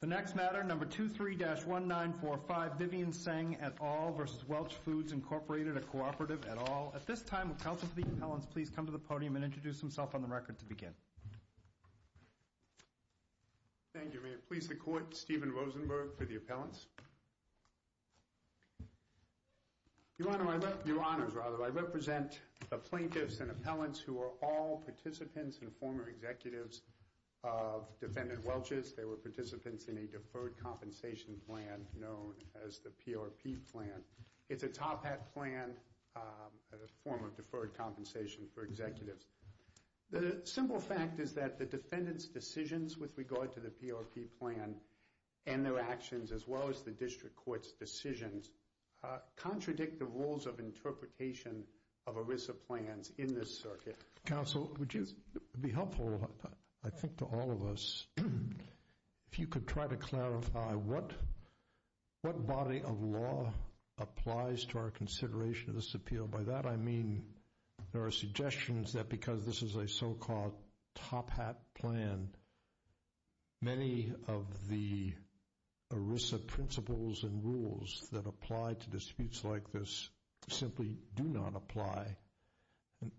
The next matter, number 23-1945, Vivian Tseng et al. v. Welch Foods, Inc., a Cooperative et al. At this time, will Council for the Appellants please come to the podium and introduce themselves on the record to begin. Thank you, Mayor. Please, the Court, Stephen Rosenberg for the Appellants. Your Honors, I represent the plaintiffs and appellants who are all participants and former executives of Defendant Welch's. They were participants in a deferred compensation plan known as the PRP plan. It's a top hat plan, a form of deferred compensation for executives. The simple fact is that the Defendant's decisions with regard to the PRP plan and their actions, as well as the District Court's decisions, contradict the rules of interpretation of ERISA plans in this circuit. Council, would you be helpful, I think, to all of us, if you could try to clarify what body of law applies to our consideration of this appeal? By that, I mean there are suggestions that because this is a so-called top hat plan, many of the ERISA principles and rules that apply to disputes like this simply do not apply.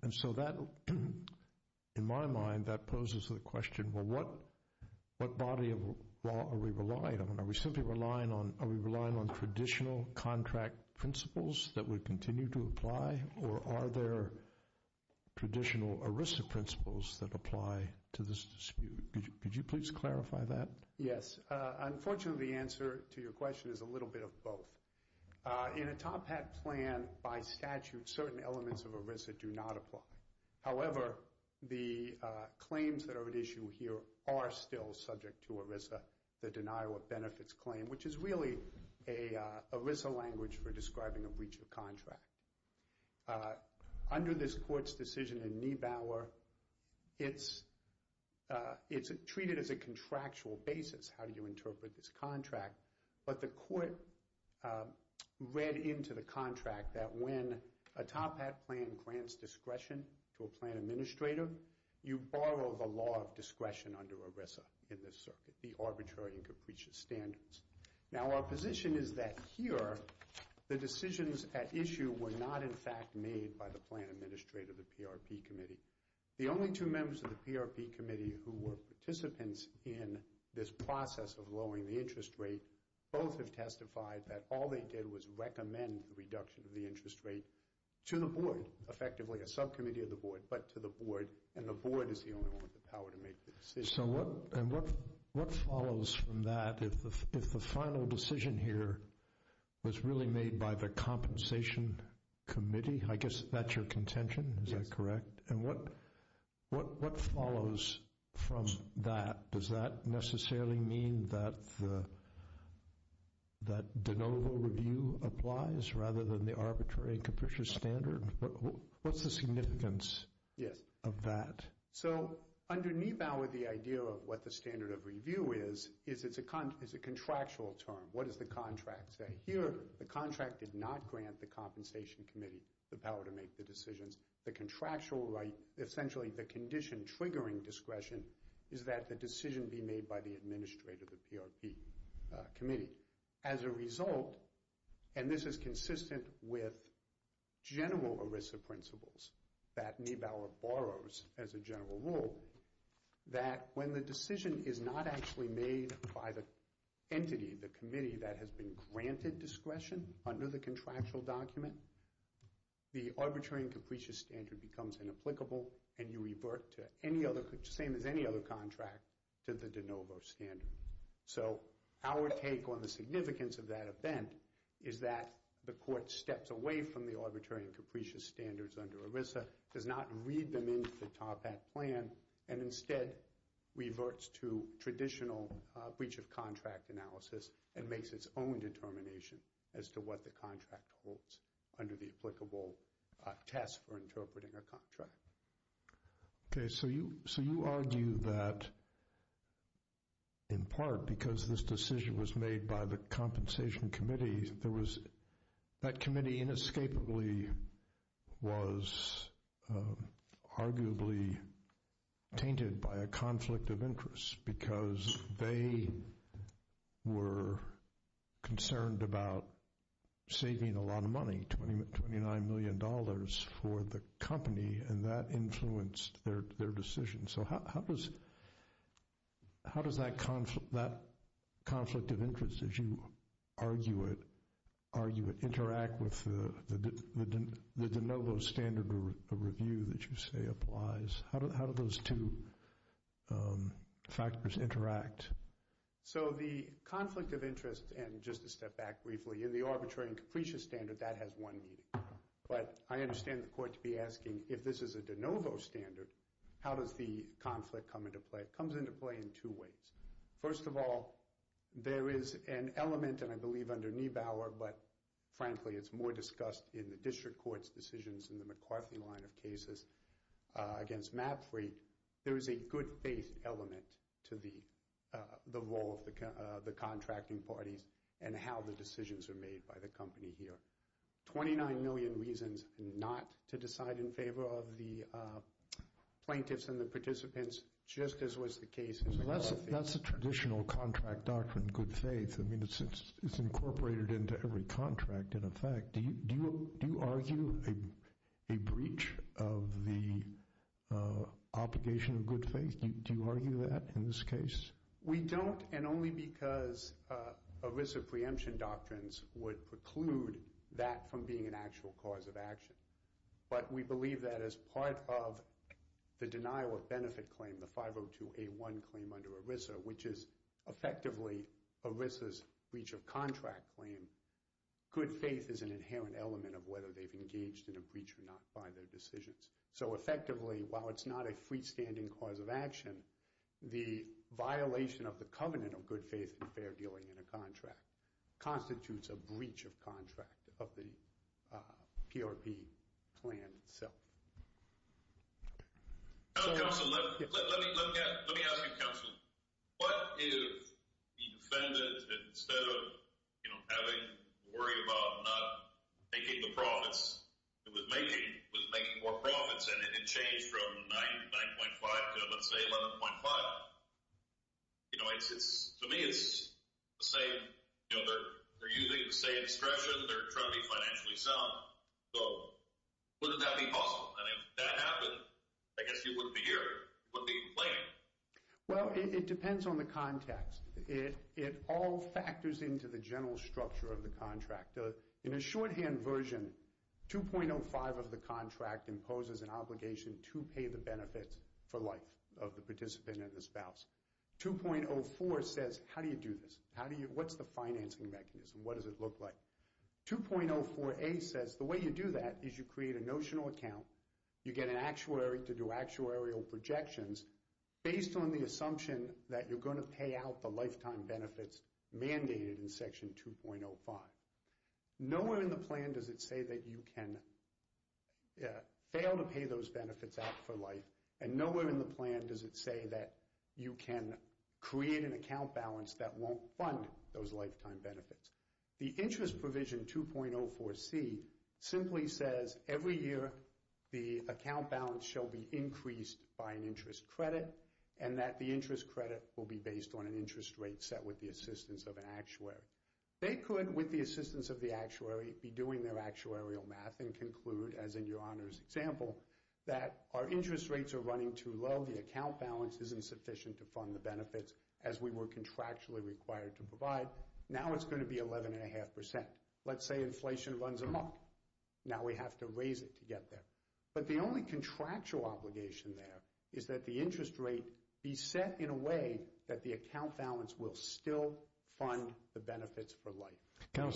And so that, in my mind, that poses the question, well, what body of law are we relying on? Are we simply relying on traditional contract principles that would continue to apply, or are there traditional ERISA principles that apply to this dispute? Could you please clarify that? Yes. Unfortunately, the answer to your question is a little bit of both. In a top hat plan, by statute, certain elements of ERISA do not apply. However, the claims that are at issue here are still subject to ERISA, the denial of benefits claim, which is really an ERISA language for describing a breach of contract. Under this Court's decision in Niebauer, it's treated as a contractual basis. How do you interpret this contract? But the Court read into the contract that when a top hat plan grants discretion to a plan administrator, you borrow the law of discretion under ERISA in this circuit, the arbitrary and capricious standards. Now, our position is that here, the decisions at issue were not, in fact, made by the plan administrator, the PRP committee. The only two members of the PRP committee who were participants in this process of lowering the interest rate, both have testified that all they did was recommend the reduction of the interest rate to the board, effectively a subcommittee of the board, but to the board, and the board is the only one with the power to make the decision. So what follows from that if the final decision here was really made by the compensation committee? I guess that's your contention, is that correct? And what follows from that? Does that necessarily mean that the de novo review applies rather than the arbitrary and capricious standard? What's the significance of that? So under Niebauer, the idea of what the standard of review is, is it's a contractual term. What does the contract say? Here, the contract did not grant the compensation committee the power to make the decisions. The contractual right, essentially the condition triggering discretion, is that the decision be made by the administrator of the PRP committee. As a result, and this is consistent with general ERISA principles that Niebauer borrows as a general rule, that when the decision is not actually made by the entity, the committee, that has been granted discretion under the contractual document, the arbitrary and capricious standard becomes inapplicable and you revert to any other, same as any other contract, to the de novo standard. So our take on the significance of that event is that the court steps away from the arbitrary and capricious standards under ERISA, does not read them into the TARPAC plan, and instead reverts to traditional breach of contract analysis and makes its own determination as to what the contract holds under the applicable test for interpreting a contract. Okay, so you argue that, in part, because this decision was made by the compensation committee, that committee inescapably was arguably tainted by a conflict of interest because they were concerned about saving a lot of money, $29 million for the company, and that influenced their decision. So how does that conflict of interest, as you argue it, interact with the de novo standard review that you say applies? How do those two factors interact? So the conflict of interest, and just to step back briefly, in the arbitrary and capricious standard, that has one meaning. But I understand the court to be asking, if this is a de novo standard, how does the conflict come into play? It comes into play in two ways. First of all, there is an element, and I believe under Niebauer, but frankly it's more discussed in the district court's decisions in the McCarthy line of cases against Mapfreight, there is a good faith element to the role of the contracting parties and how the decisions are made by the company here. Twenty-nine million reasons not to decide in favor of the plaintiffs and the participants, just as was the case in the Gallup case. That's a traditional contract doctrine, good faith. I mean, it's incorporated into every contract, in effect. Do you argue a breach of the obligation of good faith? Do you argue that in this case? We don't, and only because ERISA preemption doctrines would preclude that from being an actual cause of action. But we believe that as part of the denial of benefit claim, the 502A1 claim under ERISA, which is effectively ERISA's breach of contract claim, good faith is an inherent element of whether they've engaged in a breach or not by their decisions. So effectively, while it's not a freestanding cause of action, the violation of the covenant of good faith and fair dealing in a contract constitutes a breach of contract of the PRP plan itself. Now, counsel, let me ask you, counsel. What if the defendant, instead of having to worry about not making the profits, was making more profits and it changed from 9.5 to, let's say, 11.5? You know, to me, it's the same. You know, they're using the same expression. They're trying to be financially sound. So wouldn't that be possible? And if that happened, I guess you wouldn't be here. You wouldn't be complaining. Well, it depends on the context. It all factors into the general structure of the contract. In a shorthand version, 2.05 of the contract imposes an obligation to pay the benefits for life of the participant and the spouse. 2.04 says, how do you do this? What's the financing mechanism? What does it look like? 2.04a says the way you do that is you create a notional account. You get an actuary to do actuarial projections based on the assumption that you're going to pay out the lifetime benefits mandated in Section 2.05. Nowhere in the plan does it say that you can fail to pay those benefits out for life, and nowhere in the plan does it say that you can create an account balance that won't fund those lifetime benefits. The interest provision 2.04c simply says every year the account balance shall be increased by an interest credit and that the interest credit will be based on an interest rate set with the assistance of an actuary. They could, with the assistance of the actuary, be doing their actuarial math and conclude, as in your honor's example, that our interest rates are running too low, the account balance isn't sufficient to fund the benefits as we were contractually required to provide. Now it's going to be 11.5%. Let's say inflation runs amok. Now we have to raise it to get there. But the only contractual obligation there is that the interest rate be set in a way that the account balance will still fund the benefits for life.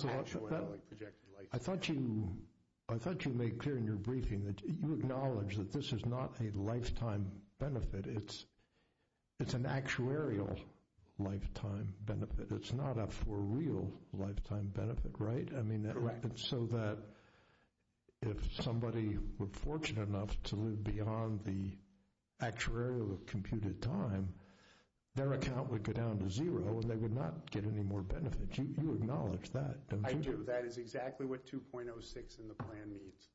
I thought you made clear in your briefing that you acknowledge that this is not a lifetime benefit. It's an actuarial lifetime benefit. It's not a for real lifetime benefit, right? Correct. So that if somebody were fortunate enough to live beyond the actuarial computed time, their account would go down to zero and they would not get any more benefits. You acknowledge that, don't you? I do. That is exactly what 2.06 in the plan means.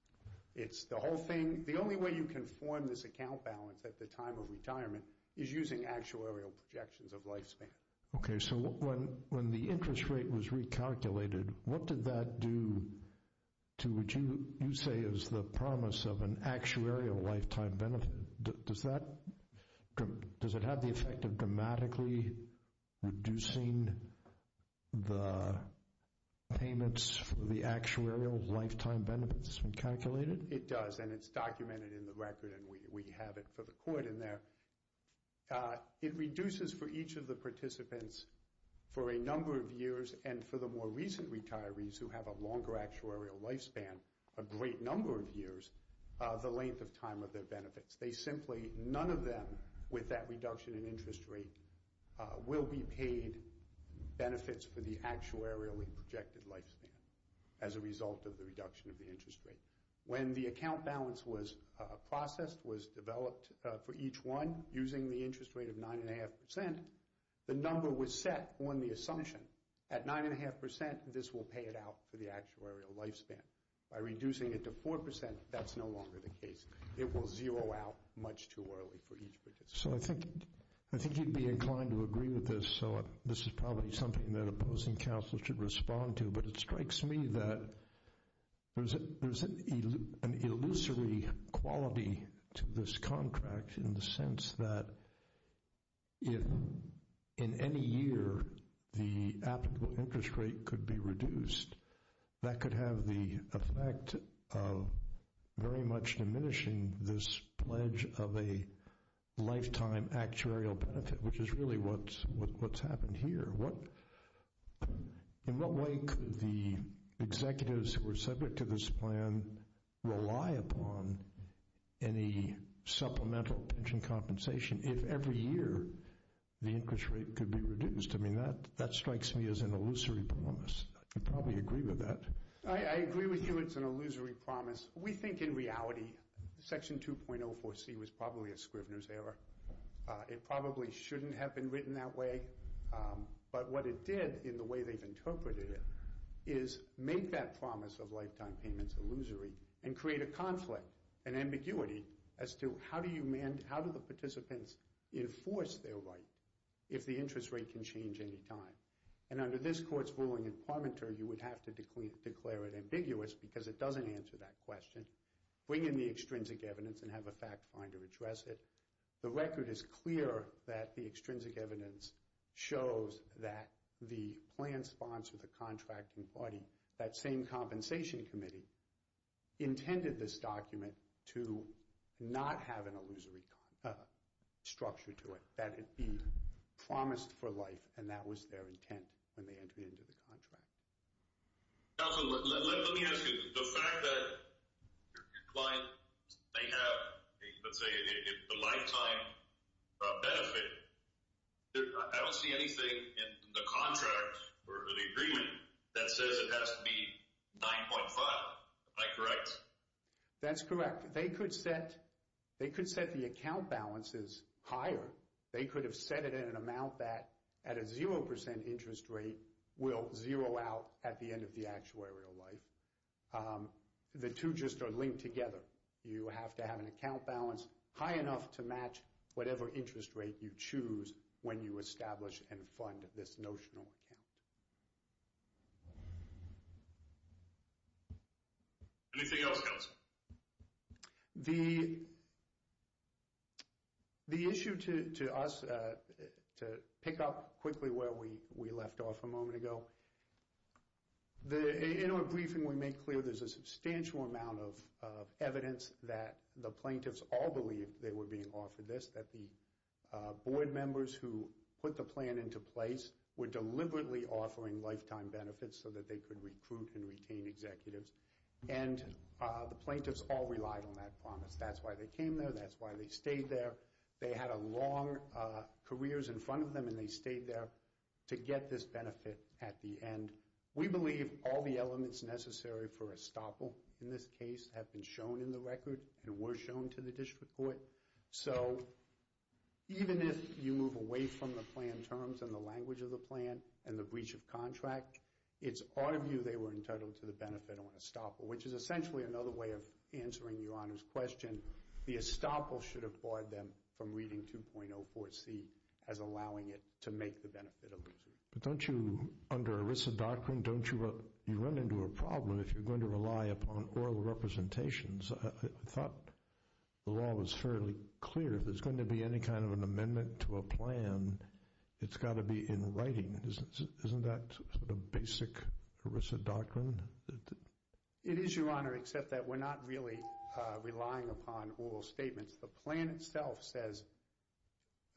The only way you can form this account balance at the time of retirement is using actuarial projections of lifespan. Okay. So when the interest rate was recalculated, what did that do to what you say is the promise of an actuarial lifetime benefit? Does it have the effect of dramatically reducing the payments for the actuarial lifetime benefits when calculated? It does and it's documented in the record and we have it for the court in there. It reduces for each of the participants for a number of years and for the more recent retirees who have a longer actuarial lifespan, a great number of years, the length of time of their benefits. They simply, none of them, with that reduction in interest rate, will be paid benefits for the actuarially projected lifespan as a result of the reduction of the interest rate. When the account balance was processed, was developed for each one using the interest rate of 9.5%, the number was set on the assumption at 9.5% this will pay it out for the actuarial lifespan. By reducing it to 4%, that's no longer the case. It will zero out much too early for each participant. So I think you'd be inclined to agree with this, so this is probably something that opposing counsel should respond to, but it strikes me that there's an illusory quality to this contract in the sense that if in any year the applicable interest rate could be reduced, that could have the effect of very much diminishing this pledge of a lifetime actuarial benefit, which is really what's happened here. In what way could the executives who are subject to this plan rely upon any supplemental pension compensation if every year the interest rate could be reduced? I mean, that strikes me as an illusory promise. I could probably agree with that. I agree with you it's an illusory promise. We think in reality Section 2.04c was probably a Scrivener's error. It probably shouldn't have been written that way, but what it did in the way they've interpreted it is make that promise of lifetime payments illusory and create a conflict, an ambiguity as to how do the participants enforce their right if the interest rate can change any time? And under this Court's ruling in Parmenter, you would have to declare it ambiguous because it doesn't answer that question, bring in the extrinsic evidence and have a fact finder address it. The record is clear that the extrinsic evidence shows that the plan sponsor, the contracting party, that same compensation committee, intended this document to not have an illusory structure to it, that it be promised for life, and that was their intent when they entered into the contract. Counsel, let me ask you, the fact that your client may have, let's say, a lifetime benefit, I don't see anything in the contract or the agreement that says it has to be 9.5. Am I correct? That's correct. They could set the account balances higher. They could have set it at an amount that, at a 0% interest rate, will zero out at the end of the actuarial life. The two just are linked together. You have to have an account balance high enough to match whatever interest rate you choose when you establish and fund this notional account. Anything else, Counsel? The issue to us, to pick up quickly where we left off a moment ago, in our briefing we make clear there's a substantial amount of evidence that the plaintiffs all believed they were being offered this, that the board members who put the plan into place were deliberately offering lifetime benefits so that they could recruit and retain executives. And the plaintiffs all relied on that promise. That's why they came there. That's why they stayed there. They had long careers in front of them, and they stayed there to get this benefit at the end. We believe all the elements necessary for estoppel in this case have been shown in the record and were shown to the district court. So even if you move away from the plan terms and the language of the plan and the breach of contract, it's our view they were entitled to the benefit on estoppel, which is essentially another way of answering Your Honor's question. The estoppel should have barred them from reading 2.04c as allowing it to make the benefit allusory. But don't you, under ERISA doctrine, don't you run into a problem if you're going to rely upon oral representations? I thought the law was fairly clear. If there's going to be any kind of an amendment to a plan, it's got to be in writing. Isn't that sort of basic ERISA doctrine? It is, Your Honor, except that we're not really relying upon oral statements. The plan itself says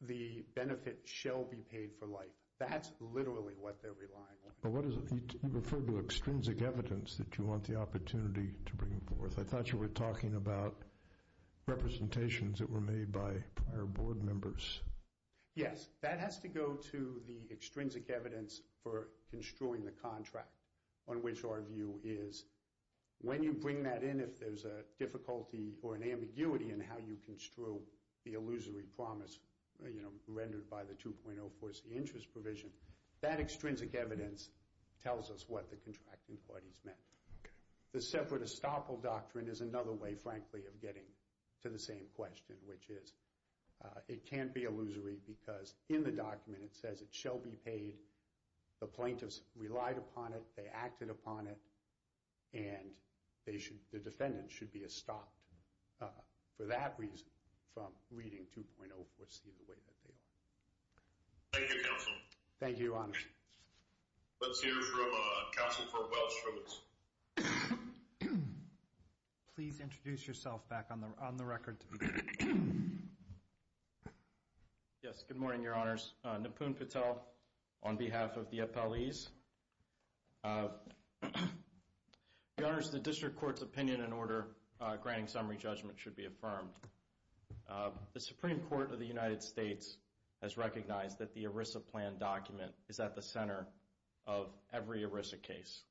the benefit shall be paid for life. That's literally what they're relying on. But what is it? You referred to extrinsic evidence that you want the opportunity to bring forth. I thought you were talking about representations that were made by prior board members. Yes, that has to go to the extrinsic evidence for construing the contract, on which our view is when you bring that in, if there's a difficulty or an ambiguity in how you construe the allusory promise rendered by the 2.04c interest provision, that extrinsic evidence tells us what the contract inquiries meant. The separate estoppel doctrine is another way, frankly, of getting to the same question, which is it can't be allusory because in the document it says it shall be paid. The plaintiffs relied upon it. They acted upon it. And the defendant should be estopped for that reason from reading 2.04c the way that they are. Thank you, Counsel. Thank you, Your Honor. Let's hear from Counsel Fortwell-Stromitz. Please introduce yourself back on the record. Yes, good morning, Your Honors. Nipun Patel on behalf of the appellees. Your Honors, the District Court's opinion and order granting summary judgment should be affirmed. The Supreme Court of the United States has recognized that the ERISA plan document is at the center of every ERISA case.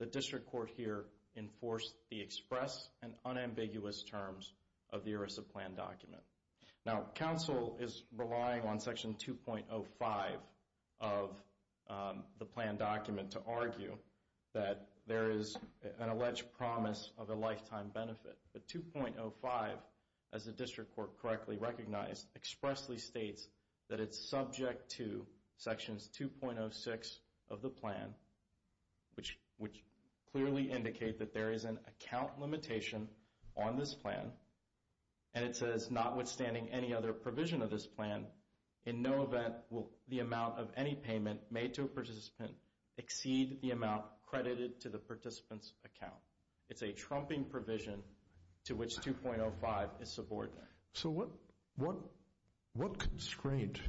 The District Court here enforced the express and unambiguous terms of the ERISA plan document. Now, Counsel is relying on Section 2.05 of the plan document to argue that there is an alleged promise of a lifetime benefit. But 2.05, as the District Court correctly recognized, expressly states that it's subject to Sections 2.06 of the plan, which clearly indicate that there is an account limitation on this plan, and it says notwithstanding any other provision of this plan, in no event will the amount of any payment made to a participant exceed the amount credited to the participant's account. It's a trumping provision to which 2.05 is subordinate. So what constraint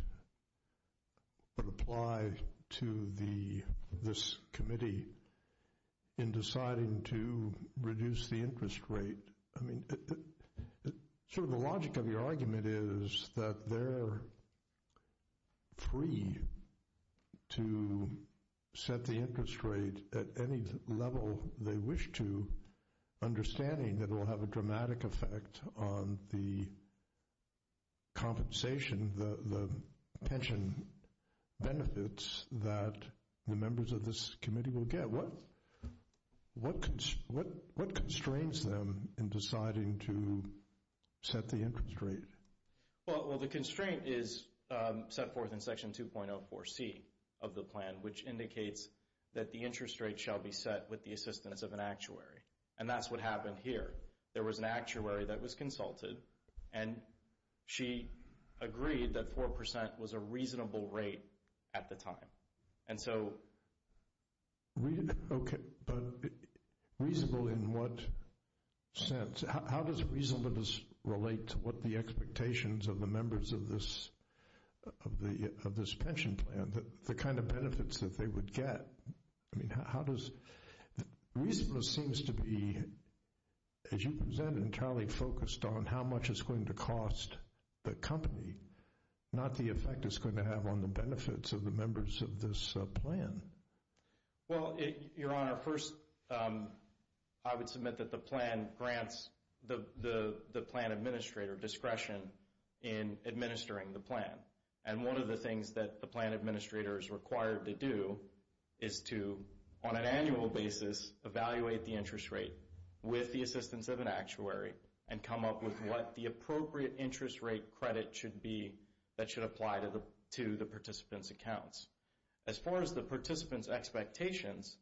would apply to this committee in deciding to reduce the interest rate? I mean, sort of the logic of your argument is that they're free to set the interest rate at any level they wish to, understanding that it will have a dramatic effect on the compensation, the pension benefits that the members of this committee will get. What constrains them in deciding to set the interest rate? Well, the constraint is set forth in Section 2.04c of the plan, which indicates that the interest rate shall be set with the assistance of an actuary. And that's what happened here. There was an actuary that was consulted, and she agreed that 4% was a reasonable rate at the time. And so... Okay, but reasonable in what sense? How does reasonableness relate to what the expectations of the members of this pension plan, the kind of benefits that they would get? I mean, how does... Reasonableness seems to be, as you presented, entirely focused on how much it's going to cost the company, not the effect it's going to have on the benefits of the members of this plan. Well, Your Honor, first, I would submit that the plan grants the plan administrator discretion in administering the plan. And one of the things that the plan administrator is required to do is to, on an annual basis, evaluate the interest rate with the assistance of an actuary and come up with what the appropriate interest rate credit should be that should apply to the participants' accounts. As far as the participants' expectations,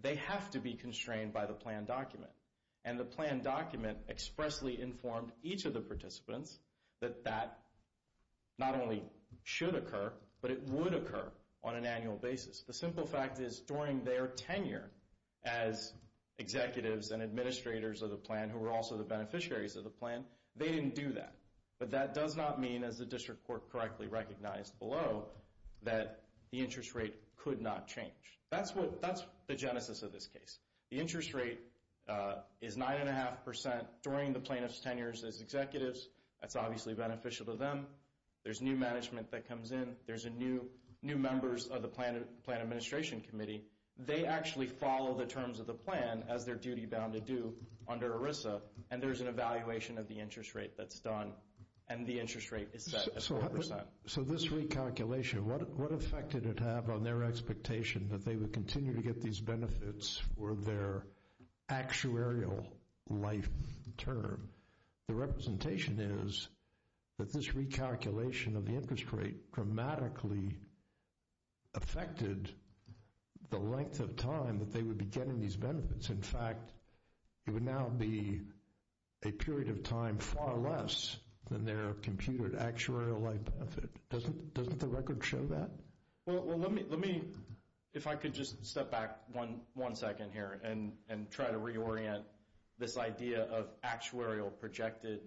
they have to be constrained by the plan document. And the plan document expressly informed each of the participants that that not only should occur, but it would occur on an annual basis. The simple fact is, during their tenure as executives and administrators of the plan, who were also the beneficiaries of the plan, they didn't do that. But that does not mean, as the district court correctly recognized below, that the interest rate could not change. That's the genesis of this case. The interest rate is 9.5% during the plaintiff's tenure as executives. That's obviously beneficial to them. There's new management that comes in. There's new members of the plan administration committee. They actually follow the terms of the plan as they're duty-bound to do under ERISA. And there's an evaluation of the interest rate that's done. And the interest rate is set at 4%. So this recalculation, what effect did it have on their expectation that they would continue to get these benefits for their actuarial life term? The representation is that this recalculation of the interest rate dramatically affected the length of time that they would be getting these benefits. In fact, it would now be a period of time far less than their computed actuarial life benefit. Doesn't the record show that? Well, let me, if I could just step back one second here and try to reorient this idea of actuarial projected,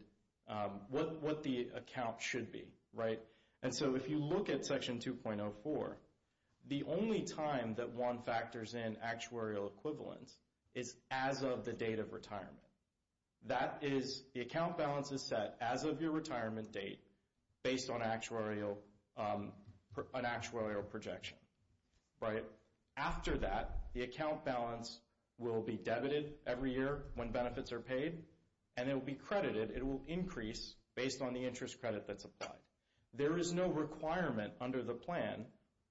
what the account should be, right? And so if you look at Section 2.04, the only time that one factors in actuarial equivalence is as of the date of retirement. That is, the account balance is set as of your retirement date based on an actuarial projection, right? After that, the account balance will be debited every year when benefits are paid and it will be credited. It will increase based on the interest credit that's applied. There is no requirement under the plan,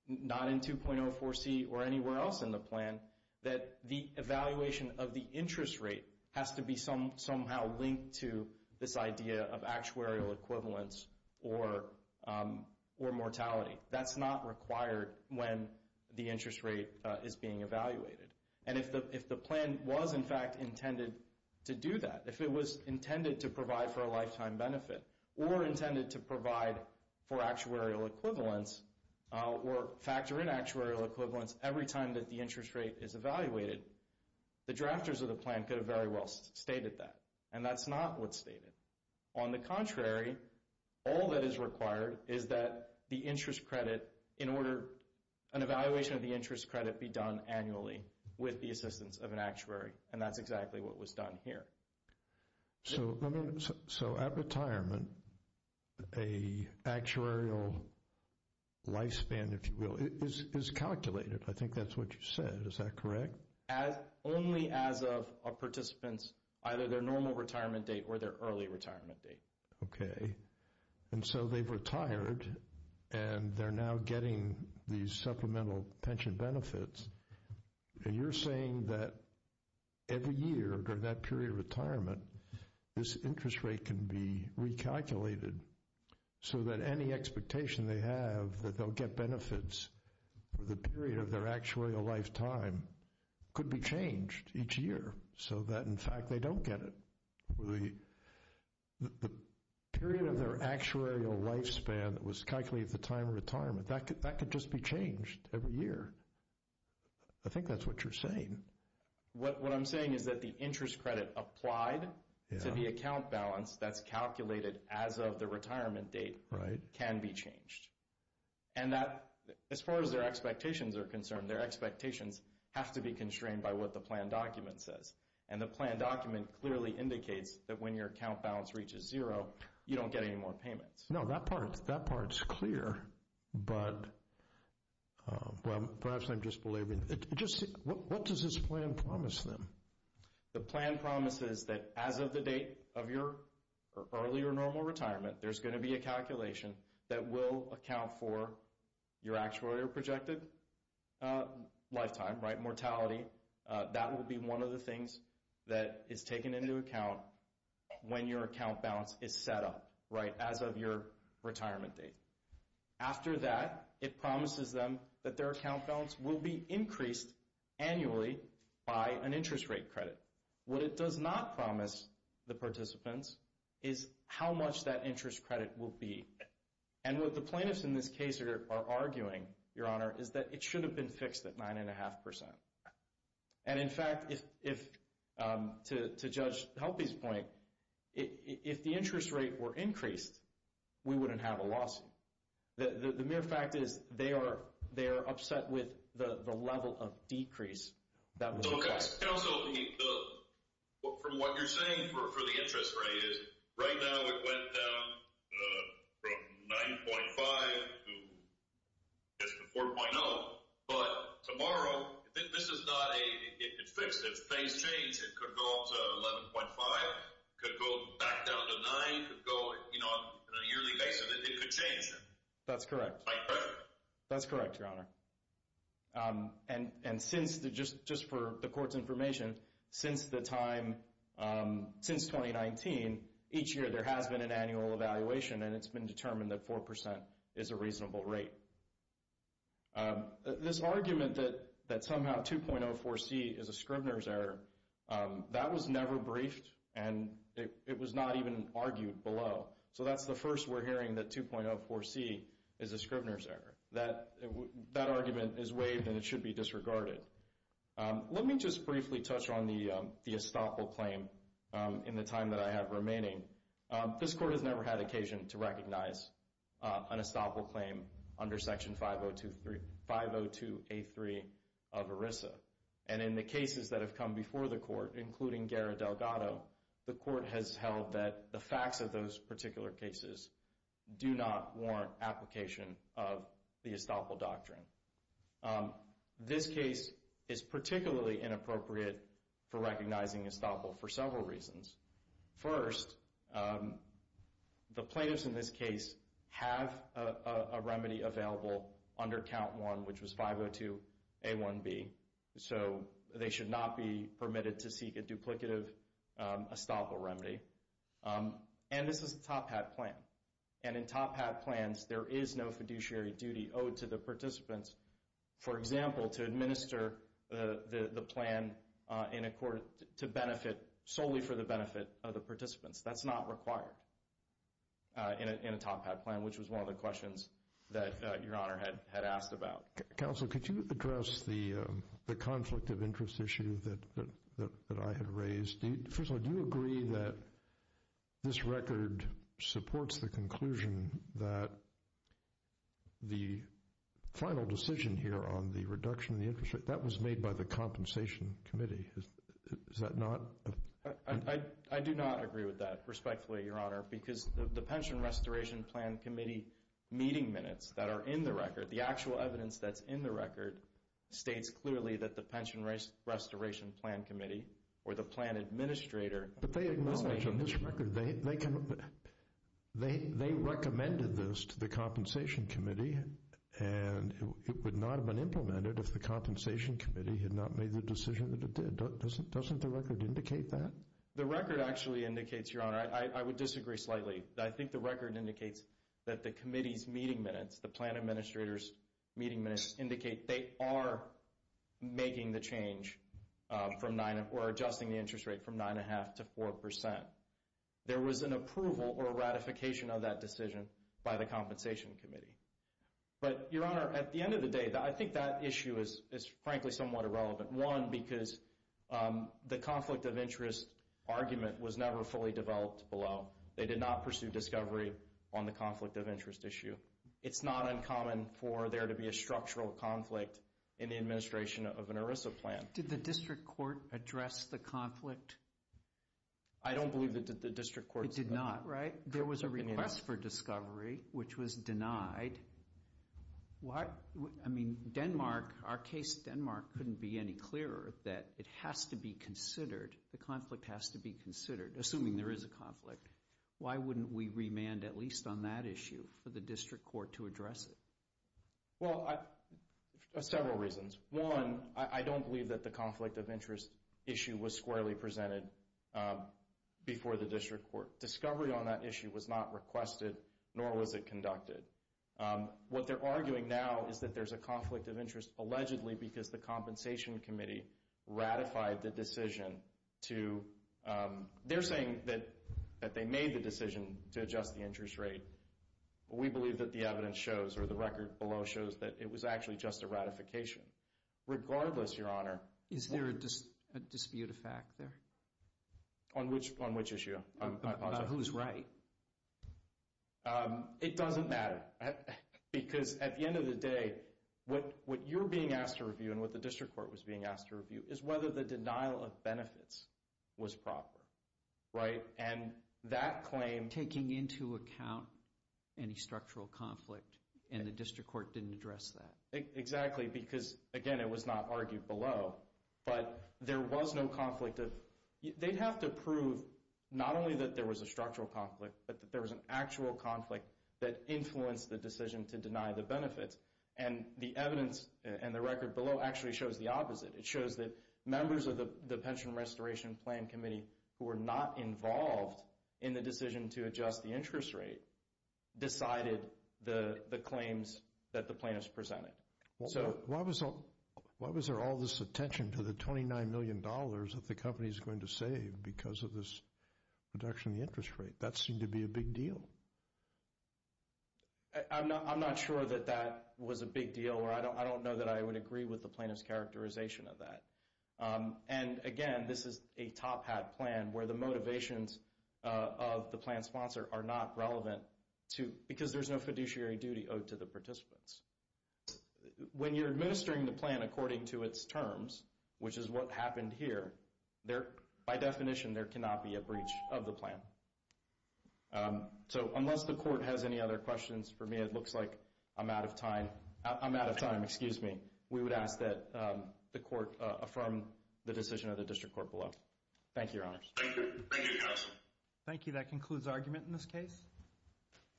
not in 2.04c or anywhere else in the plan, that the evaluation of the interest rate has to be somehow linked to this idea of actuarial equivalence or mortality. That's not required when the interest rate is being evaluated. And if the plan was, in fact, intended to do that, if it was intended to provide for a lifetime benefit or intended to provide for actuarial equivalence or factor in actuarial equivalence every time that the interest rate is evaluated, the drafters of the plan could have very well stated that. And that's not what's stated. On the contrary, all that is required is that the interest credit, in order an evaluation of the interest credit be done annually with the assistance of an actuary. And that's exactly what was done here. So at retirement, a actuarial lifespan, if you will, is calculated. I think that's what you said. Is that correct? Only as of participants, either their normal retirement date or their early retirement date. Okay. And so they've retired and they're now getting these supplemental pension benefits. And you're saying that every year during that period of retirement, this interest rate can be recalculated so that any expectation they have that they'll get benefits for the period of their actuarial lifetime could be changed each year so that, in fact, they don't get it. The period of their actuarial lifespan that was calculated at the time of retirement, that could just be changed every year. I think that's what you're saying. What I'm saying is that the interest credit applied to the account balance that's calculated as of the retirement date can be changed. And as far as their expectations are concerned, their expectations have to be constrained by what the plan document says. And the plan document clearly indicates that when your account balance reaches zero, you don't get any more payments. No, that part's clear, but perhaps I'm disbelieving. What does this plan promise them? The plan promises that as of the date of your early or normal retirement, there's going to be a calculation that will account for your actuarial projected lifetime, mortality, that will be one of the things that is taken into account when your account balance is set up. Right, as of your retirement date. After that, it promises them that their account balance will be increased annually by an interest rate credit. What it does not promise the participants is how much that interest credit will be. And what the plaintiffs in this case are arguing, Your Honor, is that it should have been fixed at 9.5%. And in fact, to Judge Helpe's point, if the interest rate were increased, we wouldn't have a lawsuit. The mere fact is they are upset with the level of decrease that was required. Counsel, from what you're saying for the interest rate, right now it went down from 9.5 to 4.0. But tomorrow, this is not a fixed phase change. It could go up to 11.5. It could go back down to 9. It could go on a yearly basis. It could change. That's correct. By credit. That's correct, Your Honor. And since, just for the court's information, since the time, since 2019, each year there has been an annual evaluation and it's been determined that 4% is a reasonable rate. This argument that somehow 2.04c is a Scribner's error, that was never briefed and it was not even argued below. So that's the first we're hearing that 2.04c is a Scribner's error. That argument is waived and it should be disregarded. Let me just briefly touch on the estoppel claim in the time that I have remaining. This court has never had occasion to recognize an estoppel claim under Section 502A3 of ERISA. And in the cases that have come before the court, including Guerra-Delgado, the court has held that the facts of those particular cases do not warrant application of the estoppel doctrine. This case is particularly inappropriate for recognizing estoppel for several reasons. First, the plaintiffs in this case have a remedy available under Count 1, which was 502A1B. So they should not be permitted to seek a duplicative estoppel remedy. And this is a top hat plan. And in top hat plans, there is no fiduciary duty owed to the participants. For example, to administer the plan in a court to benefit solely for the benefit of the participants. That's not required in a top hat plan, which was one of the questions that Your Honor had asked about. Counsel, could you address the conflict of interest issue that I had raised? First of all, do you agree that this record supports the conclusion that the final decision here on the reduction in the interest rate, that was made by the Compensation Committee, is that not? I do not agree with that, respectfully, Your Honor, because the Pension Restoration Plan Committee meeting minutes that are in the record, the actual evidence that's in the record states clearly that the Pension Restoration Plan Committee or the plan administrator... But they acknowledge in this record, they recommended this to the Compensation Committee and it would not have been implemented if the Compensation Committee had not made the decision that it did. Doesn't the record indicate that? The record actually indicates, Your Honor, I would disagree slightly. I think the record indicates that the committee's meeting minutes, the plan administrator's meeting minutes indicate they are making the change or adjusting the interest rate from 9.5% to 4%. There was an approval or a ratification of that decision by the Compensation Committee. But, Your Honor, at the end of the day, I think that issue is frankly somewhat irrelevant. One, because the conflict of interest argument was never fully developed below. They did not pursue discovery on the conflict of interest issue. It's not uncommon for there to be a structural conflict in the administration of an ERISA plan. Did the district court address the conflict? I don't believe that the district court... It did not, right? There was a request for discovery, which was denied. I mean, Denmark, our case in Denmark couldn't be any clearer that it has to be considered. The conflict has to be considered, assuming there is a conflict. Why wouldn't we remand at least on that issue for the district court to address it? Well, several reasons. One, I don't believe that the conflict of interest issue was squarely presented before the district court. Discovery on that issue was not requested, nor was it conducted. What they're arguing now is that there's a conflict of interest, allegedly because the Compensation Committee ratified the decision to... They're saying that they made the decision to adjust the interest rate. We believe that the evidence shows, or the record below shows, that it was actually just a ratification. Regardless, Your Honor... Is there a dispute of fact there? On which issue? On who's right. It doesn't matter, because at the end of the day, what you're being asked to review and what the district court was being asked to review is whether the denial of benefits was proper, right? And that claim... Taking into account any structural conflict, and the district court didn't address that. Exactly, because, again, it was not argued below, but there was no conflict of... They'd have to prove not only that there was a structural conflict, but that there was an actual conflict that influenced the decision to deny the benefits. And the evidence and the record below actually shows the opposite. It shows that members of the Pension Restoration Plan Committee who were not involved in the decision to adjust the interest rate decided the claims that the plaintiffs presented. Why was there all this attention to the $29 million that the company's going to save because of this reduction in the interest rate? That seemed to be a big deal. I'm not sure that that was a big deal. I don't know that I would agree with the plaintiff's characterization of that. And, again, this is a top hat plan where the motivations of the plan sponsor are not relevant because there's no fiduciary duty owed to the participants. When you're administering the plan according to its terms, which is what happened here, by definition, there cannot be a breach of the plan. So unless the Court has any other questions, for me it looks like I'm out of time. I'm out of time, excuse me. We would ask that the Court affirm the decision of the District Court below. Thank you, Your Honors. Thank you. Thank you, Counsel. Thank you. That concludes argument in this case.